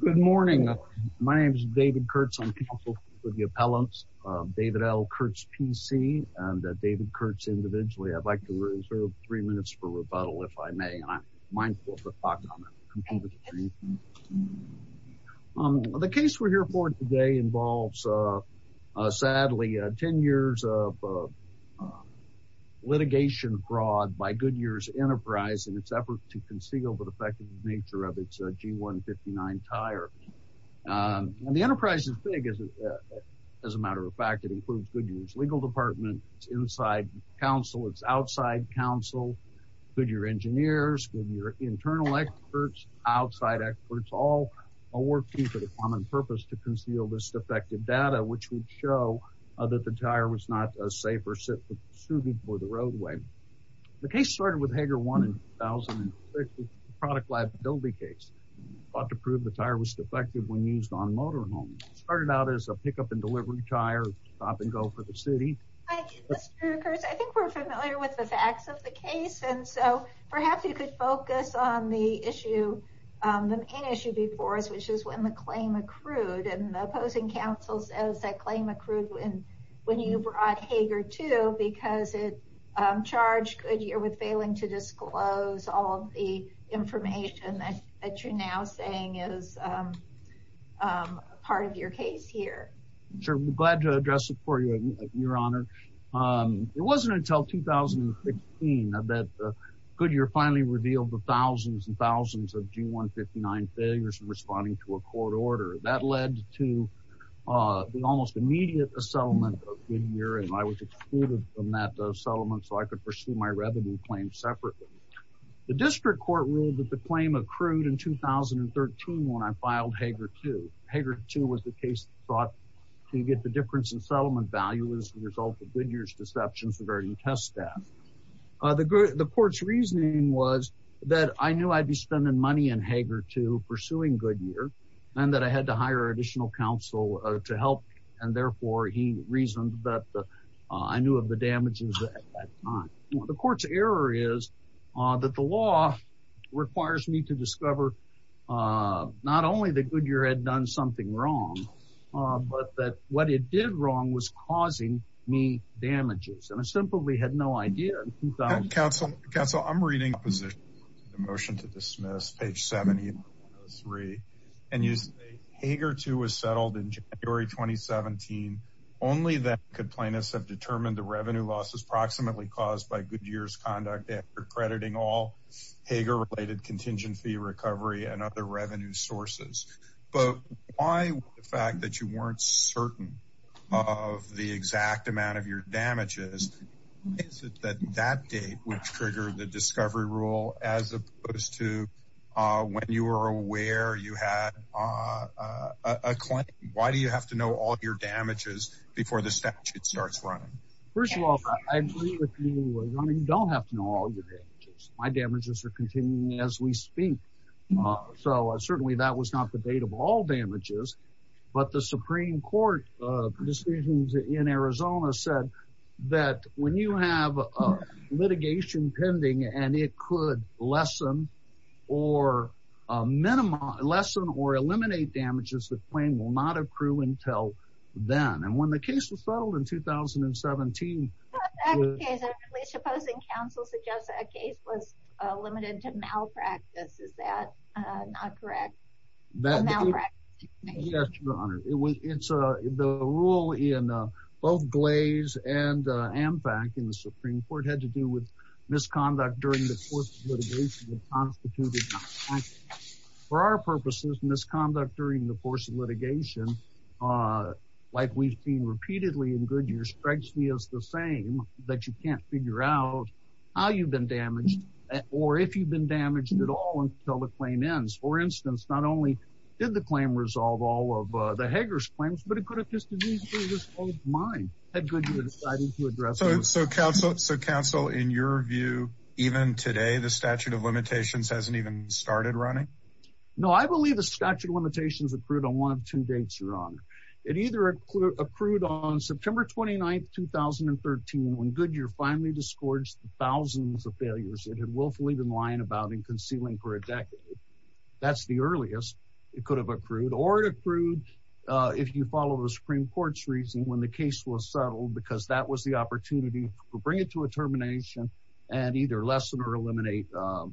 Good morning. My name is David Kurtz. I'm counsel for the appellants, David L. Kurtz PC, and David Kurtz individually. I'd like to reserve three minutes for rebuttal if I may. I'm mindful of the fact that I'm completely free. The case we're here for today involves, sadly, 10 years of litigation fraud by Goodyear's enterprise in its effort to conceal the defective nature of its G159 tire. The enterprise is big, as a matter of fact. It includes Goodyear's legal department, its inside counsel, its outside counsel, Goodyear engineers, Goodyear internal experts, outside experts, all working for the common purpose to conceal this defective data, which would show that the tire was not safe or suited for the roadway. The case started with Hager 1 in 2006, a product liability case, sought to prove the tire was defective when used on motorhomes. It started out as a pickup and delivery tire, a stop and go for the city. Hi, Mr. Kurtz. I think we're familiar with the facts of the case, and so perhaps you could focus on the issue, the main issue before us, which is when the claim accrued, and the opposing counsel says that claim accrued when you brought Hager 2 because it charged Goodyear with failing to disclose all of the information that you're now saying is part of your case here. I'm glad to address it for you, Your Honor. It wasn't until 2015 that Goodyear finally revealed the thousands and thousands of G159 failures in responding to a court order. That led to the almost immediate settlement of Goodyear, and I was excluded from that settlement so I could pursue my revenue claim separately. The district court ruled that the claim accrued in 2013 when I filed Hager 2. Hager 2 was the case that sought to get the difference in settlement value as a result of Goodyear's deceptions regarding test staff. The court's reasoning was that I knew I'd be spending money in Hager 2 pursuing Goodyear, and that I had to hire additional counsel to help, and therefore he reasoned that I knew of the time. The court's error is that the law requires me to discover not only that Goodyear had done something wrong, but that what it did wrong was causing me damages, and I simply had no idea. Counsel, counsel, I'm reading opposition to the motion to dismiss page 70 of 103 and use Hager 2 was settled in January 2017. Only then could plaintiffs have determined the cause by Goodyear's conduct after crediting all Hager-related contingent fee recovery and other revenue sources. But why, with the fact that you weren't certain of the exact amount of your damages, is it that that date would trigger the discovery rule as opposed to when you were aware you had a claim? Why do you have to know all of your damages before the statute starts running? First of all, I agree with you. You don't have to know all your damages. My damages are continuing as we speak. So certainly that was not the date of all damages. But the Supreme Court decisions in Arizona said that when you have litigation pending and it could lessen or minimize, lessen or eliminate damages, the claim will not accrue until then. And when the case was settled in 2017, Supposing counsel suggests that a case was limited to malpractice, is that not correct? Yes, Your Honor. It's the rule in both Glaze and Ampac in the Supreme Court had to do with misconduct during the course of litigation. For our purposes, misconduct during the course of litigation, like we've seen repeatedly in Goodyear, strikes me as the same, that you can't figure out how you've been damaged or if you've been damaged at all until the claim ends. For instance, not only did the claim resolve all of the Hager's claims, but it could have just as easily resolved mine. Had Goodyear decided to address it. So counsel, in your view, even today, the statute of limitations hasn't even started running? No, I believe the statute of limitations accrued on one of two dates, Your Honor. It either accrued on September 29th, 2013, when Goodyear finally disgorged the thousands of failures it had willfully been lying about and concealing for a decade. That's the earliest it could have accrued or accrued if you follow the Supreme Court's reasoning when the case was settled because that was the opportunity to bring it to a termination and either lessen or eliminate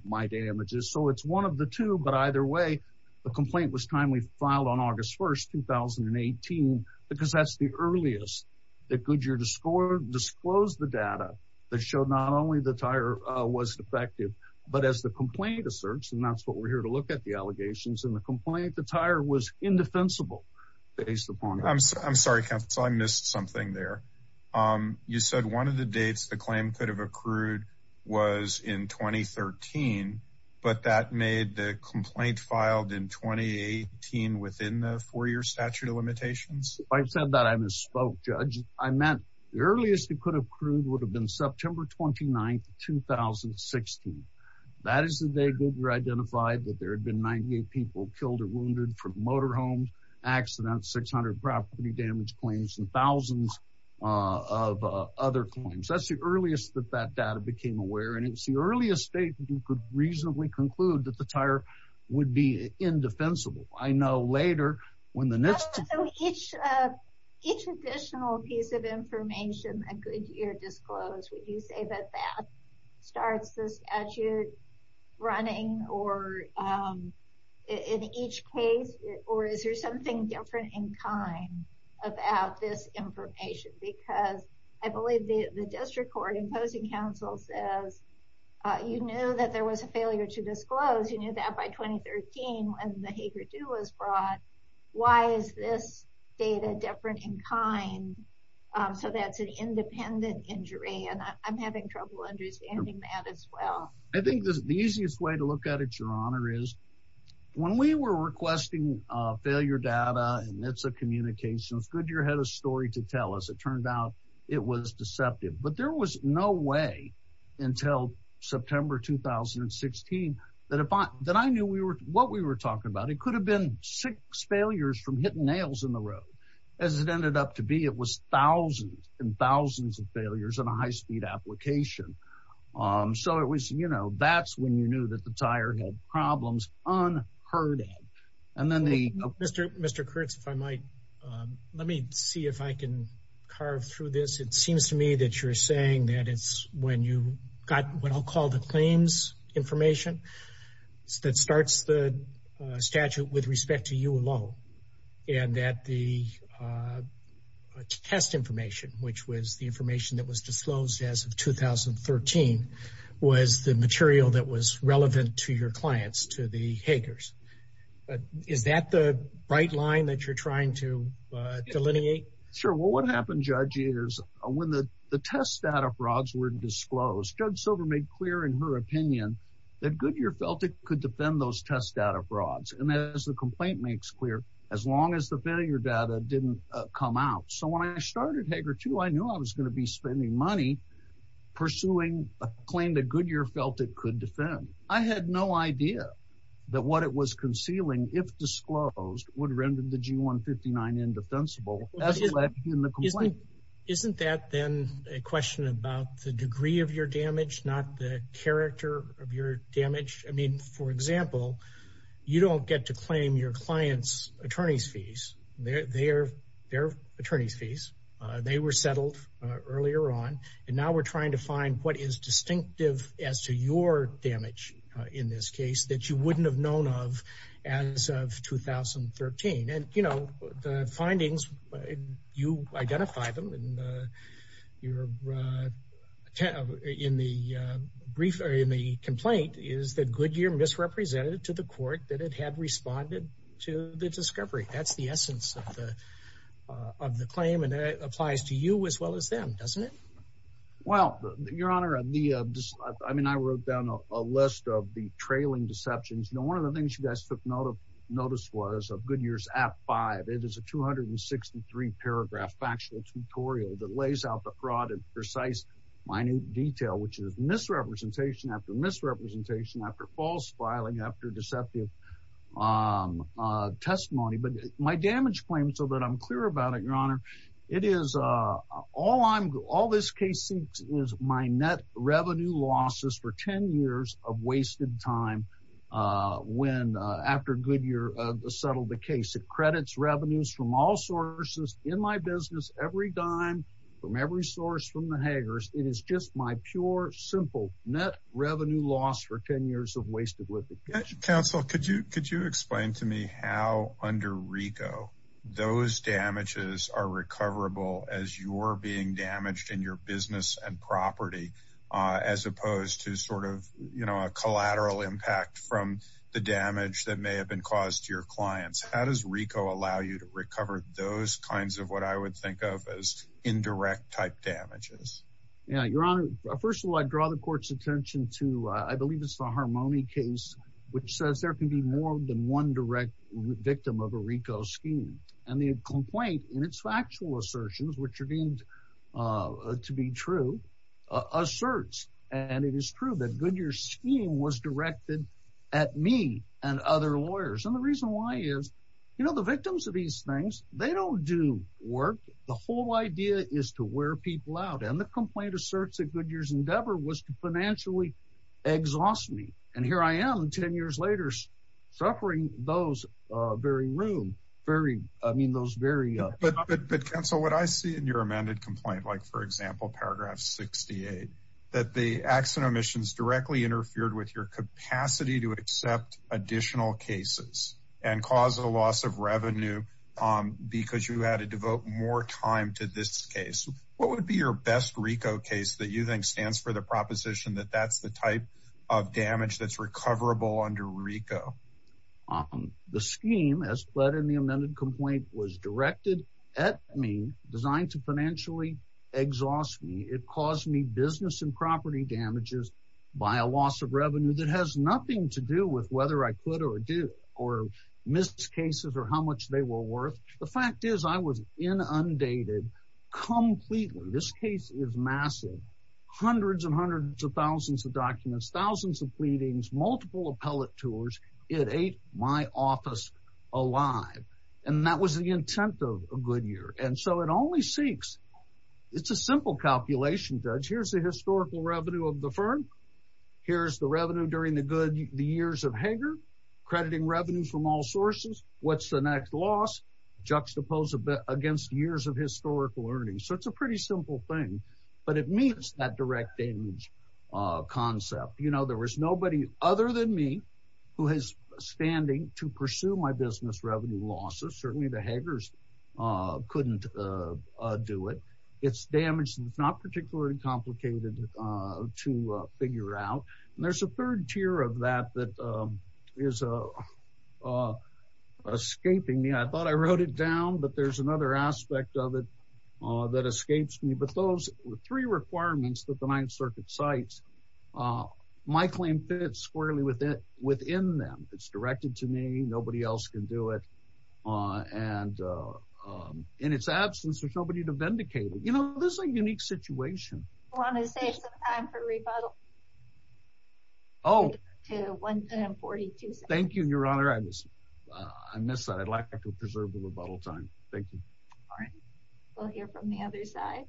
my damages. So it's one of the two, but either way, the complaint was timely filed on August 1st, 2018, because that's the earliest that Goodyear disclosed the data that showed not only the tire was defective, but as the complaint asserts, and that's what we're here to look at the allegations and the complaint, the tire was indefensible based upon. I'm sorry, counsel, I missed something there. You said one of the dates the claim could have accrued was in 2013, but that made the complaint filed in 2018 within the four-year statute of limitations. I said that I misspoke, Judge. I meant the earliest it could have accrued would have been September 29th, 2016. That is the day Goodyear identified that there had been 98 people killed or wounded from motorhomes, accidents, 600 property damage claims, and it was the earliest that that data became aware, and it was the earliest date that you could reasonably conclude that the tire would be indefensible. I know later when the next- So each additional piece of information that Goodyear disclosed, would you say that that starts the statute running or in each case, or is there something different in kind about this information? Because I believe the district court imposing counsel says, you knew that there was a failure to disclose. You knew that by 2013 when the Hager 2 was brought. Why is this data different in kind? So that's an independent injury, and I'm having trouble understanding that as well. I think the easiest way to look at it, Your Honor, is when we were requesting failure data, and it's a communication. It's Goodyear had a story to tell us. It turned out it was deceptive, but there was no way until September 2016 that I knew what we were talking about. It could have been six failures from hitting nails in the road. As it ended up to be, it was thousands and thousands of failures in a high-speed application. So it was, you know, that's when you knew that the tire had problems unheard of. Mr. Kurtz, if I might, let me see if I can carve through this. It seems to me that you're saying that it's when you got what I'll call the claims information that starts the statute with respect to you alone, and that the test information, which was the information that was disclosed as of 2013, was the material that was relevant to your clients, to the Is that the bright line that you're trying to delineate? Sure. Well, what happened, Judge, is when the test data frauds were disclosed, Judge Silver made clear in her opinion that Goodyear felt it could defend those test data frauds. And as the complaint makes clear, as long as the failure data didn't come out. So when I started Hager 2, I knew I was going to be spending money pursuing a claim that Goodyear felt it I had no idea that what it was concealing, if disclosed, would render the G-159 indefensible. Isn't that then a question about the degree of your damage, not the character of your damage? I mean, for example, you don't get to claim your client's attorney's fees, their attorney's fees. They were settled earlier on. And now we're trying to find what is distinctive as to your damage in this case that you wouldn't have known of as of 2013. And, you know, the findings, you identify them and you're in the brief in the complaint is that Goodyear misrepresented to the court that it had responded to the discovery. That's the essence of the claim. And that applies to you as well as them, doesn't it? Well, Your Honor, I mean, I wrote down a list of the trailing deceptions. You know, one of the things you guys took notice was of Goodyear's Act 5. It is a 263 paragraph factual tutorial that lays out the fraud in precise, minute detail, which is misrepresentation after misrepresentation, after false filing, after deceptive testimony. But my damage claim, so that I'm clear about it, Your Honor, it is all I'm all this case is my net revenue losses for 10 years of wasted time. When after Goodyear settled the case, it credits revenues from all sources in my business, every dime from every source from the haggers. It is just my pure, simple net revenue loss for 10 years of wasted litigation. Counsel, could you could you explain to me how under Rico, those damages are recoverable as you're being damaged in your business and property, as opposed to sort of, you know, a collateral impact from the damage that may have been caused to your clients? How does Rico allow you to recover those kinds of what I would think of as indirect type damages? Yeah, Your Honor, first of all, I draw the court's attention to I believe it's the Harmony case, which says there can be more than one direct victim of a Rico scheme. And the complaint in its factual assertions, which are deemed to be true, asserts and it is true that Goodyear scheme was directed at me and other lawyers. And the reason why is, you know, the victims of these things, they don't do work. The whole idea is to wear people out. And the complaint asserts that Goodyear's endeavor was to financially exhaust me. And here I am 10 years later, suffering those very room, very, I mean, those very... But counsel, what I see in your amended complaint, like, for example, paragraph 68, that the accident omissions directly interfered with your capacity to accept additional cases and cause a loss of revenue, because you had to devote more time to this case. What would be your best Rico case that you think stands for the proposition that that's the type of damage that's recoverable under Rico? The scheme as put in the amended complaint was directed at me, designed to financially exhaust me. It caused me business and property damages by a loss of revenue that has nothing to do with whether I could or do or miss cases or how much they were worth. The fact is, I was inundated completely. This case is massive. Hundreds and hundreds of thousands of documents, thousands of pleadings, multiple appellate tours, it ate my office alive. And that was the intent of Goodyear. And so it only seeks, it's a simple calculation judge, here's the historical revenue of the firm. Here's the revenue during the good, the years of Hager, crediting revenue from all sources, what's the next loss, juxtapose a bit against years of historical earnings. So it's a pretty simple thing. But it means that direct damage concept, you know, there was nobody other than me, who has standing to pursue my business revenue losses, certainly the Hagers couldn't do it. It's damaged, it's not particularly complicated to figure out. And there's a third tier of that that is escaping me. I thought I wrote it down. But there's another aspect of it that escapes me. But those were three requirements that the Ninth Circuit sites. Ah, my claim fits squarely with it within them. It's directed to me, nobody else can do it. And in its absence, there's nobody to vindicate it. You know, this is a unique situation. Want to save some time for rebuttal? Oh, to 142. Thank you, Your Honor. I miss that. I'd like to preserve the rebuttal time. Thank you. All right. We'll hear from the other side.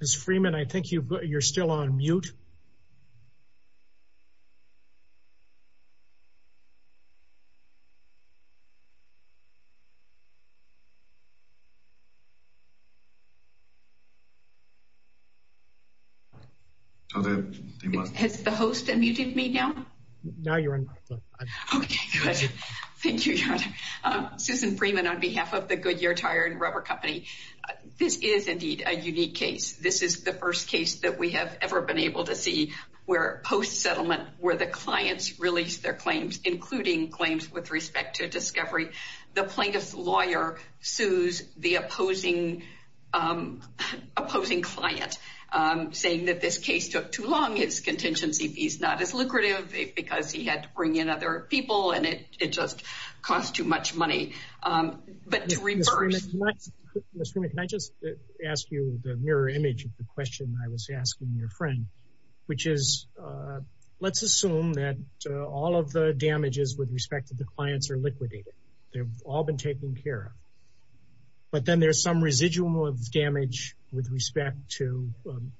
Ms. Freeman, I think you're still on mute. Has the host unmuted me now? No, you're on. Okay, good. Thank you, Your Honor. Susan Freeman on behalf of the Goodyear Tire and Rubber Company. This is indeed a unique case. This is the first case that we have ever been able to see where post-settlement, where the clients release their claims, including claims with respect to discovery. The plaintiff's lawyer sues the opposing client, saying that this case took too long, his contingency fee's not as lucrative, because he had to bring in other people, and it just cost too much money. But to reverse... Ms. Freeman, can I just ask you the mirror image of the question I was asking your friend, which is, let's assume that all of the damages with respect to the clients are liquidated. They've all been taken care of. But then there's some residual damage with respect to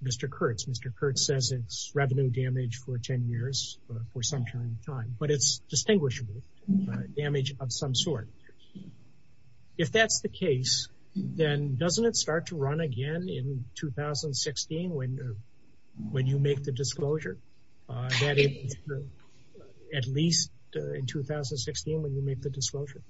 Mr. Kurtz. Mr. Kurtz says it's revenue damage for 10 years, for some time. But it's distinguishable damage of some sort. If that's the case, then doesn't it start to run again in 2016 when you make the disclosure? At least in 2016 when you make the disclosure?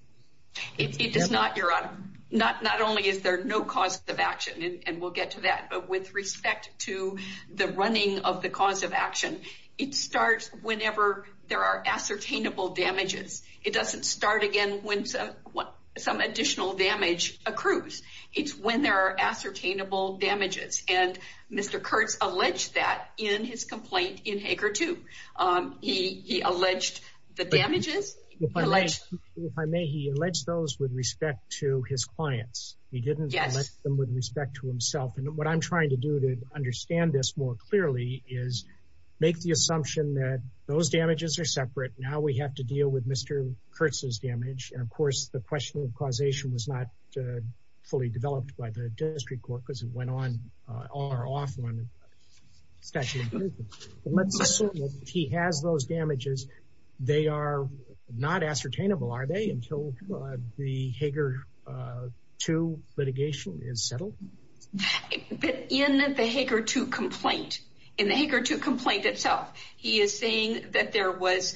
It does not, Your Honor. Not only is there no cause of action, and we'll get to that, but with respect to the running of the cause of action, it starts whenever there are ascertainable damages. It doesn't start again when some additional damage accrues. It's when there are ascertainable damages. And Mr. Kurtz alleged that in his complaint in Hager 2. He alleged the damages... If I may, he alleged those with respect to his clients. He didn't allege them with respect to himself. And what I'm trying to do to understand this more clearly is make the assumption that those damages are separate. Now we have to deal with Mr. Kurtz's damage. And of course, the question of causation was not fully developed by the district court because it went on or off on a statute of limitations. Let's assume that he has those damages. They are not ascertainable, are they, until the Hager 2 litigation is settled? But in the Hager 2 complaint, in the Hager 2 complaint itself, he is saying that there was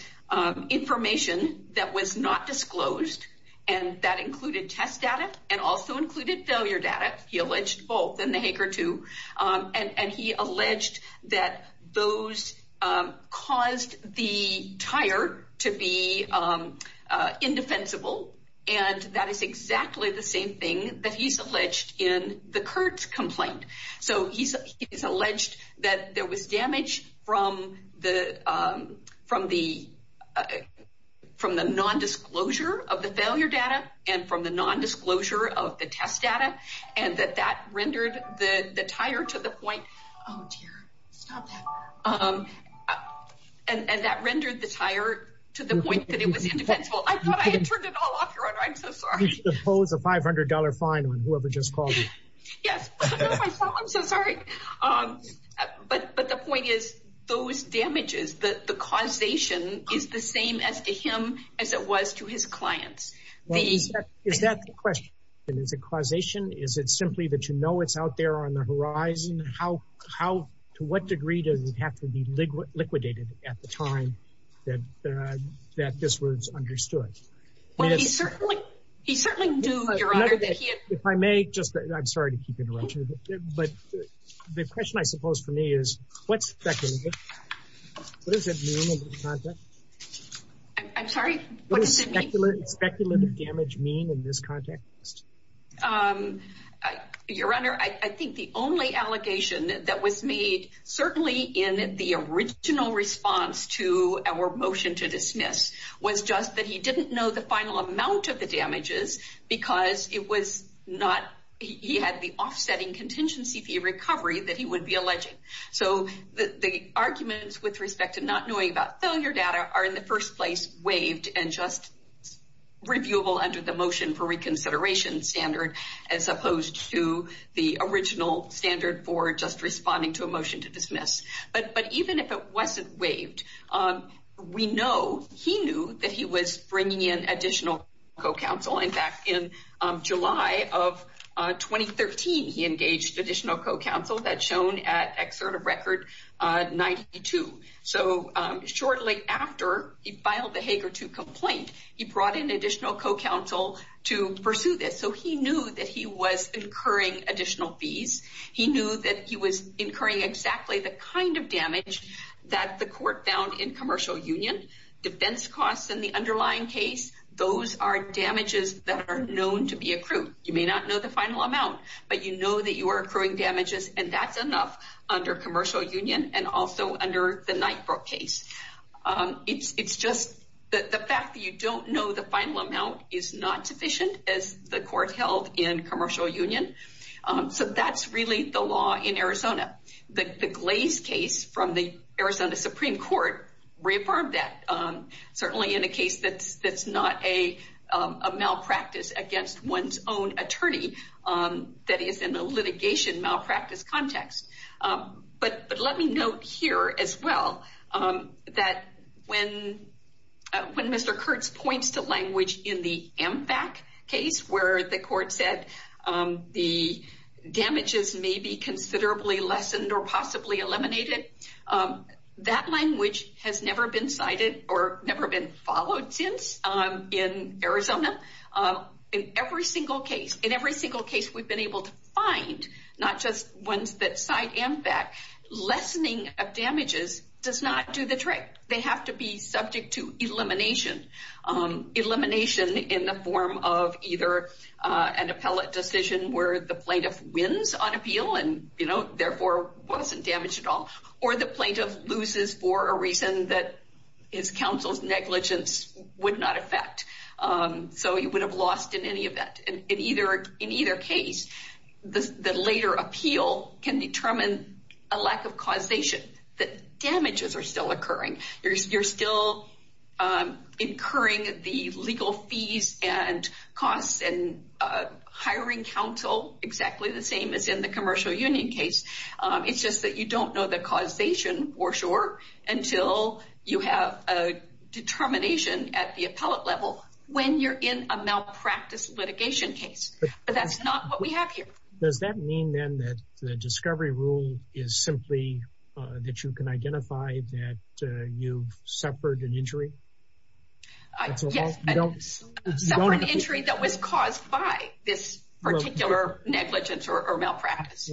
information that was not disclosed, and that included test data and also included failure data. He alleged both in the Hager 2. And he alleged that those caused the tire to be indefensible. And that is exactly the same thing that he's alleged in the Kurtz complaint. So he's alleged that there was damage from the non-disclosure of the failure data and from the non-disclosure of the test data, and that that rendered the tire to the point that it was indefensible. I thought I had turned it all off. You should impose a $500 fine on whoever just called you. Yes, I'm so sorry. But the point is, those damages, the causation is the same as to his clients. Is that the question? Is it causation? Is it simply that you know it's out there on the horizon? To what degree does it have to be liquidated at the time that this was understood? He certainly knew, Your Honor, that he had... If I may, I'm sorry to keep interrupting. But the question, I suppose, for me is, what's speculative? What does it mean in this context? I'm sorry? What does speculative damage mean in this context? Your Honor, I think the only allegation that was made, certainly in the original response to our motion to dismiss, was just that he didn't know the final amount of the damages because he had the offsetting contingency fee recovery that he would be alleging. So the arguments with respect to not knowing about failure data are, in the first place, waived and just reviewable under the motion for reconsideration standard, as opposed to the original standard for just responding to a motion to dismiss. But even if it wasn't waived, we know he knew that he was bringing in additional co-counsel. In fact, in July of 2013, he engaged additional co-counsel. That's shown at excerpt of Record 92. So shortly after he filed the Hager 2 complaint, he brought in additional co-counsel to pursue this. So he knew that he was incurring additional fees. He knew that he was incurring exactly the kind of damage that the court found in commercial union. Defense costs in the underlying case, those are damages that are known to be accrued. You may not know the final amount, but you know that you are accruing damages and that's enough under commercial union and also under the Knightbrook case. It's just that the fact that you don't know the final amount is not sufficient as the court held in commercial union. So that's really the law in Arizona. The Glaze case from the Arizona Supreme Court reaffirmed that. Certainly in a case that's not a malpractice against one's own attorney that is in a litigation malpractice context. But let me note here as well that when Mr. Kurtz points to language in the MFAC case where the court said the damages may be considerably lessened or possibly eliminated, that language has never been cited or never been followed since in Arizona. In every single case we've been able to find, not just ones that cite MFAC, lessening of damages does not do the trick. They have to be subject to elimination. Elimination in the form of either an appellate decision where the plaintiff wins on appeal and therefore wasn't damaged at all or the plaintiff loses for a reason that his counsel's negligence would not affect. So he would have lost in any event. In either case, the later appeal can determine a lack of causation that damages are still occurring. You're still incurring the legal fees and costs and hiring counsel exactly the same as in the commercial union case. It's just that you don't know the causation for sure until you have a determination at the appellate level when you're in a malpractice litigation case. But that's not what we have here. Does that mean then that the discovery rule is simply that you can identify that you've suffered an injury? Yes, I suffered an injury that was caused by this particular negligence or malpractice.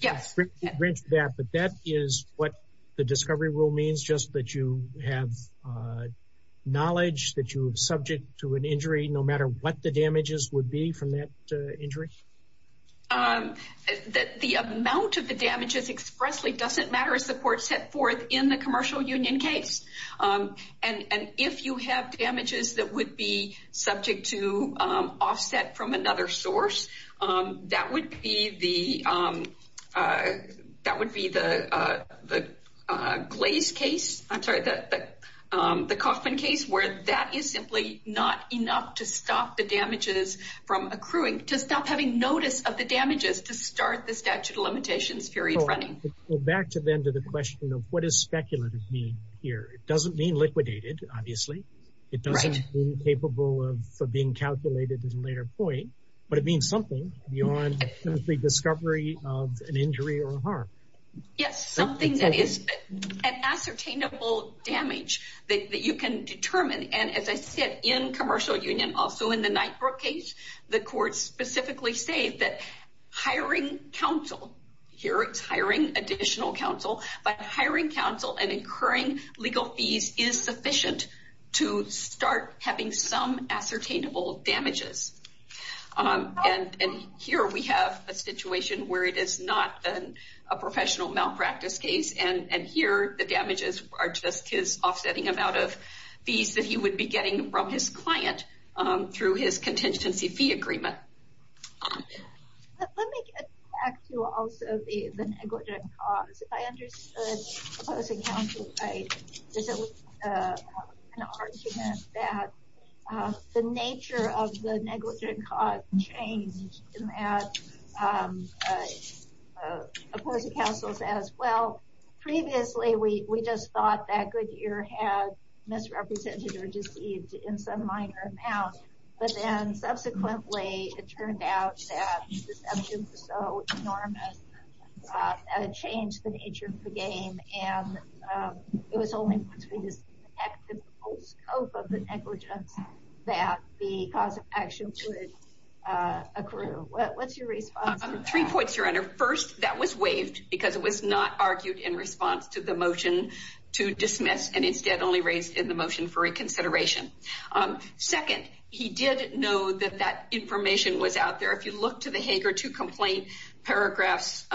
Yes. But that is what the discovery rule means, just that you have knowledge that you're subject to an injury no matter what the damages would be from that injury? The amount of the damages expressly doesn't matter as the court set forth in the commercial union case. And if you have damages that would be subject to offset from another source, that would be the Glaze case, I'm sorry, the Coffman case, where that is simply not enough to stop the damages from accruing, to stop having notice of the damages to start the statute of limitations period running. Back to the end of the question of what does speculative mean here? It doesn't mean liquidated, obviously. It doesn't mean capable of being calculated at a later point, but it means something beyond the discovery of an injury or a harm. Yes, something that is an ascertainable damage that you can determine. And as I said in commercial union, also in the Knightbrook case, the courts specifically say that hiring counsel, here it's hiring additional counsel, but hiring counsel and incurring legal fees is sufficient to start having some ascertainable damages. And here we have a situation where it is not a professional malpractice case, and here the damages are just his offsetting amount of fees that he would be getting from his client through his contingency fee agreement. Let me get back to also the negligent cause. I understood opposing counsel, right, because it was an argument that the nature of the negligent cause changed in that opposing counsel says, well, previously we just thought that Goodyear had misrepresented or deceived in some minor amount, but then subsequently it turned out that the nature of the game and it was only once we disconnected the whole scope of the negligence that the cause of action should accrue. What's your response to that? Three points, Your Honor. First, that was waived because it was not argued in response to the motion to dismiss and instead only raised in the motion for reconsideration. Second, he did know that that information was there. If you look to the Hager II complaint, paragraphs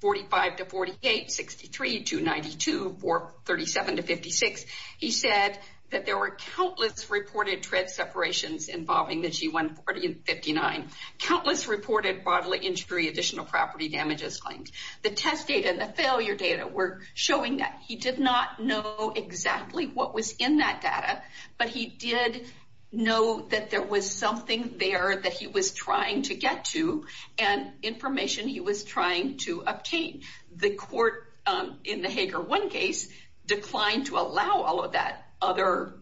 45 to 48, 63 to 92, 37 to 56, he said that there were countless reported tread separations involving the G140 and 59, countless reported bodily injury, additional property damages claims. The test data and the failure data were showing that he did not know exactly what was in that data, but he did know that there was something there that he was trying to get to and information he was trying to obtain. The court in the Hager I case declined to allow all of that other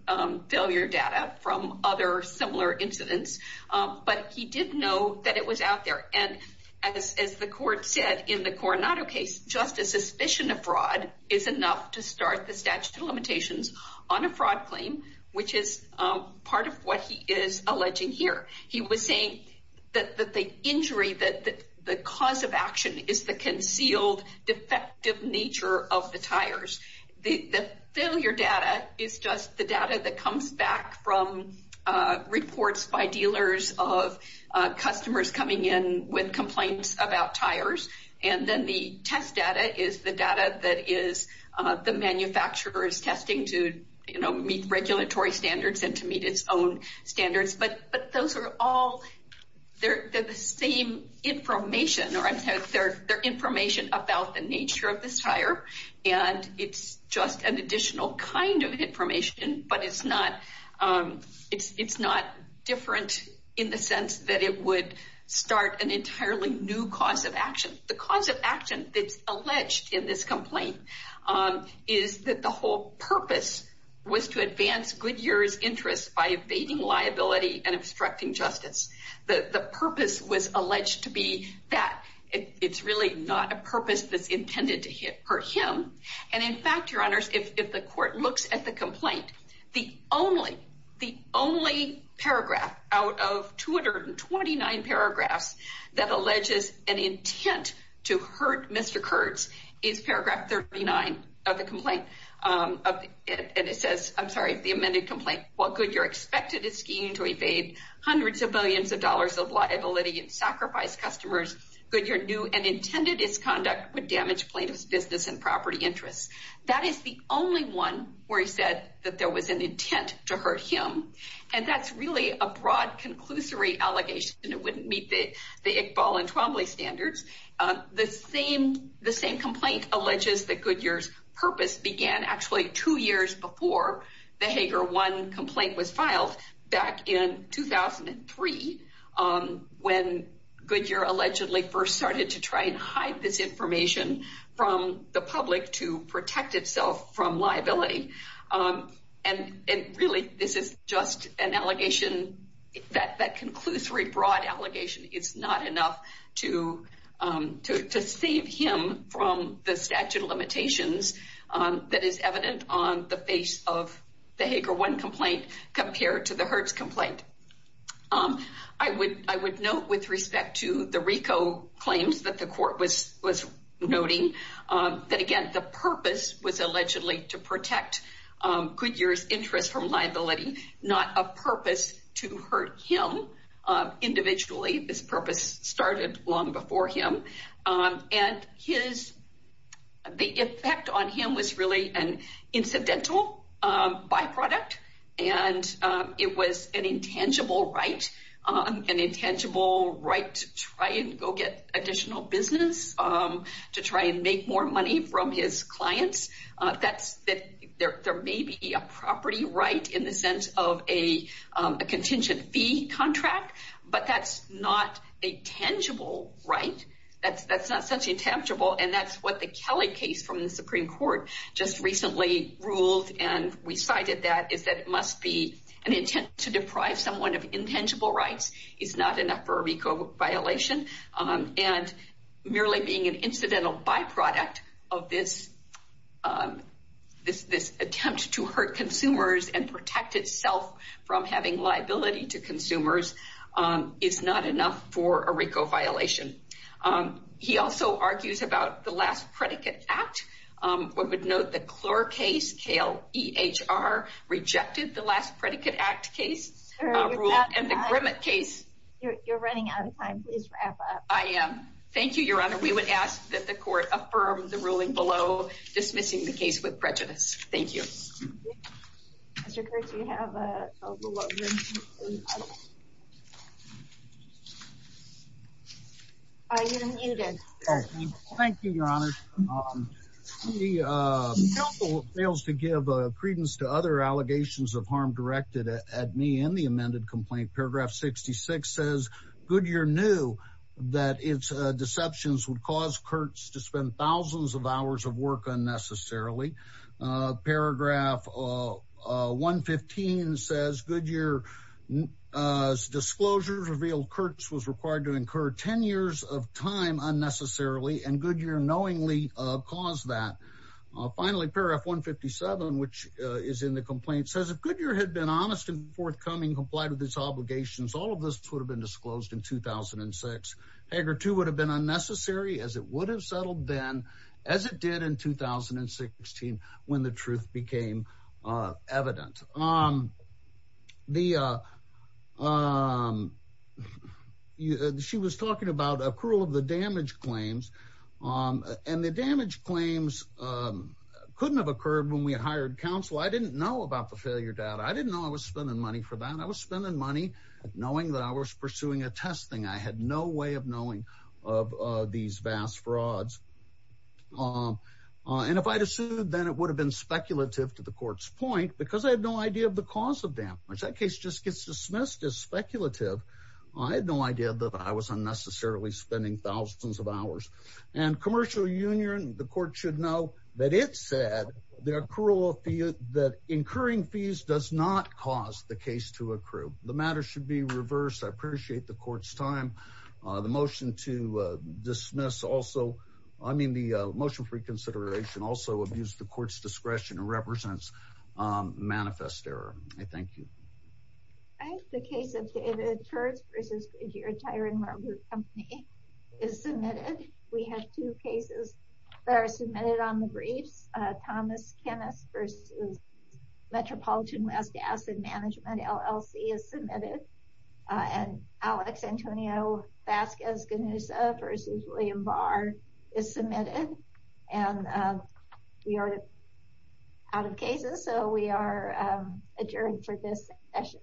failure data from other similar incidents, but he did know that it was out there. And as the court said in the Coronado case, just a suspicion of fraud is enough to start the statute of limitations on a fraud claim, which is part of what he is alleging here. He was saying that the injury, that the cause of action is the concealed defective nature of the tires. The failure data is just the data that comes back from reports by dealers of customers coming in with complaints about tires. And then the test data is the data that is the manufacturer's testing to, you know, meet regulatory standards and to meet its own standards. But those are all, they're the same information, or I'm sorry, they're information about the nature of this tire. And it's just an additional kind of information, but it's not different in the sense that it would start an entirely new cause of action. The cause of action that's alleged in this complaint is that the whole purpose was to advance Goodyear's interests by evading liability and obstructing justice. The purpose was alleged to be that it's really not a purpose that's intended to hurt him. And in fact, your honors, if the court looks at the complaint, the only paragraph out of 229 paragraphs that alleges an intent to hurt Mr. Kurtz is paragraph 39 of the complaint. And it says, I'm sorry, the amended complaint, while Goodyear expected his scheme to evade hundreds of billions of dollars of liability and sacrifice customers, Goodyear knew and intended its conduct would damage plaintiff's business and property interests. That is the only one where he said that there was an intent to hurt him. And that's really a broad conclusory allegation. It wouldn't meet the Iqbal and Twombly standards. The same complaint alleges that Goodyear's purpose began actually two years before the Hager 1 complaint was filed back in 2003, when Goodyear allegedly first started to try and hide this information from the public to protect itself from liability. And really, this is just an allegation, that conclusory broad allegation is not enough to save him from the statute of limitations that is evident on the face of the Hager 1 complaint compared to the Hertz complaint. I would note with respect to the RICO claims that the court was noting that, again, the purpose was allegedly to protect Goodyear's interest from liability, not a purpose to hurt him individually. This purpose started long before him. And the effect on him was really an intangible right, an intangible right to try and go get additional business, to try and make more money from his clients. There may be a property right in the sense of a contingent fee contract, but that's not a tangible right. That's not such intangible. And that's what the Kelly case from is that it must be an intent to deprive someone of intangible rights is not enough for a RICO violation. And merely being an incidental byproduct of this attempt to hurt consumers and protect itself from having liability to consumers is not enough for a RICO violation. He also argues about the Last Predicate Act. I would note the Clore case, KLEHR, rejected the Last Predicate Act case and the Grimmett case. You're running out of time. Please wrap up. I am. Thank you, Your Honor. We would ask that the court affirm the ruling below dismissing the case with prejudice. Thank you. You did. Thank you, Your Honor. The court fails to give credence to other allegations of harm directed at me in the amended complaint. Paragraph 66 says Goodyear knew that its deceptions would cause Kurtz to spend thousands of hours of work unnecessarily. Paragraph 115 says Goodyear's disclosures revealed Kurtz was required to incur 10 years of time unnecessarily, and Goodyear knowingly caused that. Finally, paragraph 157, which is in the complaint, says if Goodyear had been honest and forthcoming, complied with its obligations, all of this would have been disclosed in 2006. Hager 2 would have been unnecessary as it would have been. She was talking about accrual of the damage claims, and the damage claims couldn't have occurred when we had hired counsel. I didn't know about the failure data. I didn't know I was spending money for that. I was spending money knowing that I was pursuing a testing. I had no way of knowing of these vast frauds. And if I had assumed then it would have been speculative to the court's point because I had no idea of the cause of damage. That case just gets dismissed as speculative. I had no idea that I was unnecessarily spending thousands of hours. And commercial union, the court should know that it said that incurring fees does not cause the case to accrue. The matter should be reversed. I appreciate the court's time. The motion to dismiss also, I mean the motion for reconsideration also abuse the court's discretion and represents manifest error. I thank you. I think the case of David Church versus Gideon Tyron Marblewood Company is submitted. We have two cases that are submitted on the briefs. Thomas Kennist versus Metropolitan West Asset Management LLC is submitted. And Alex Antonio Vasquez-Gonza versus William Barr is submitted. And we are out of cases. So we are adjourned for this session.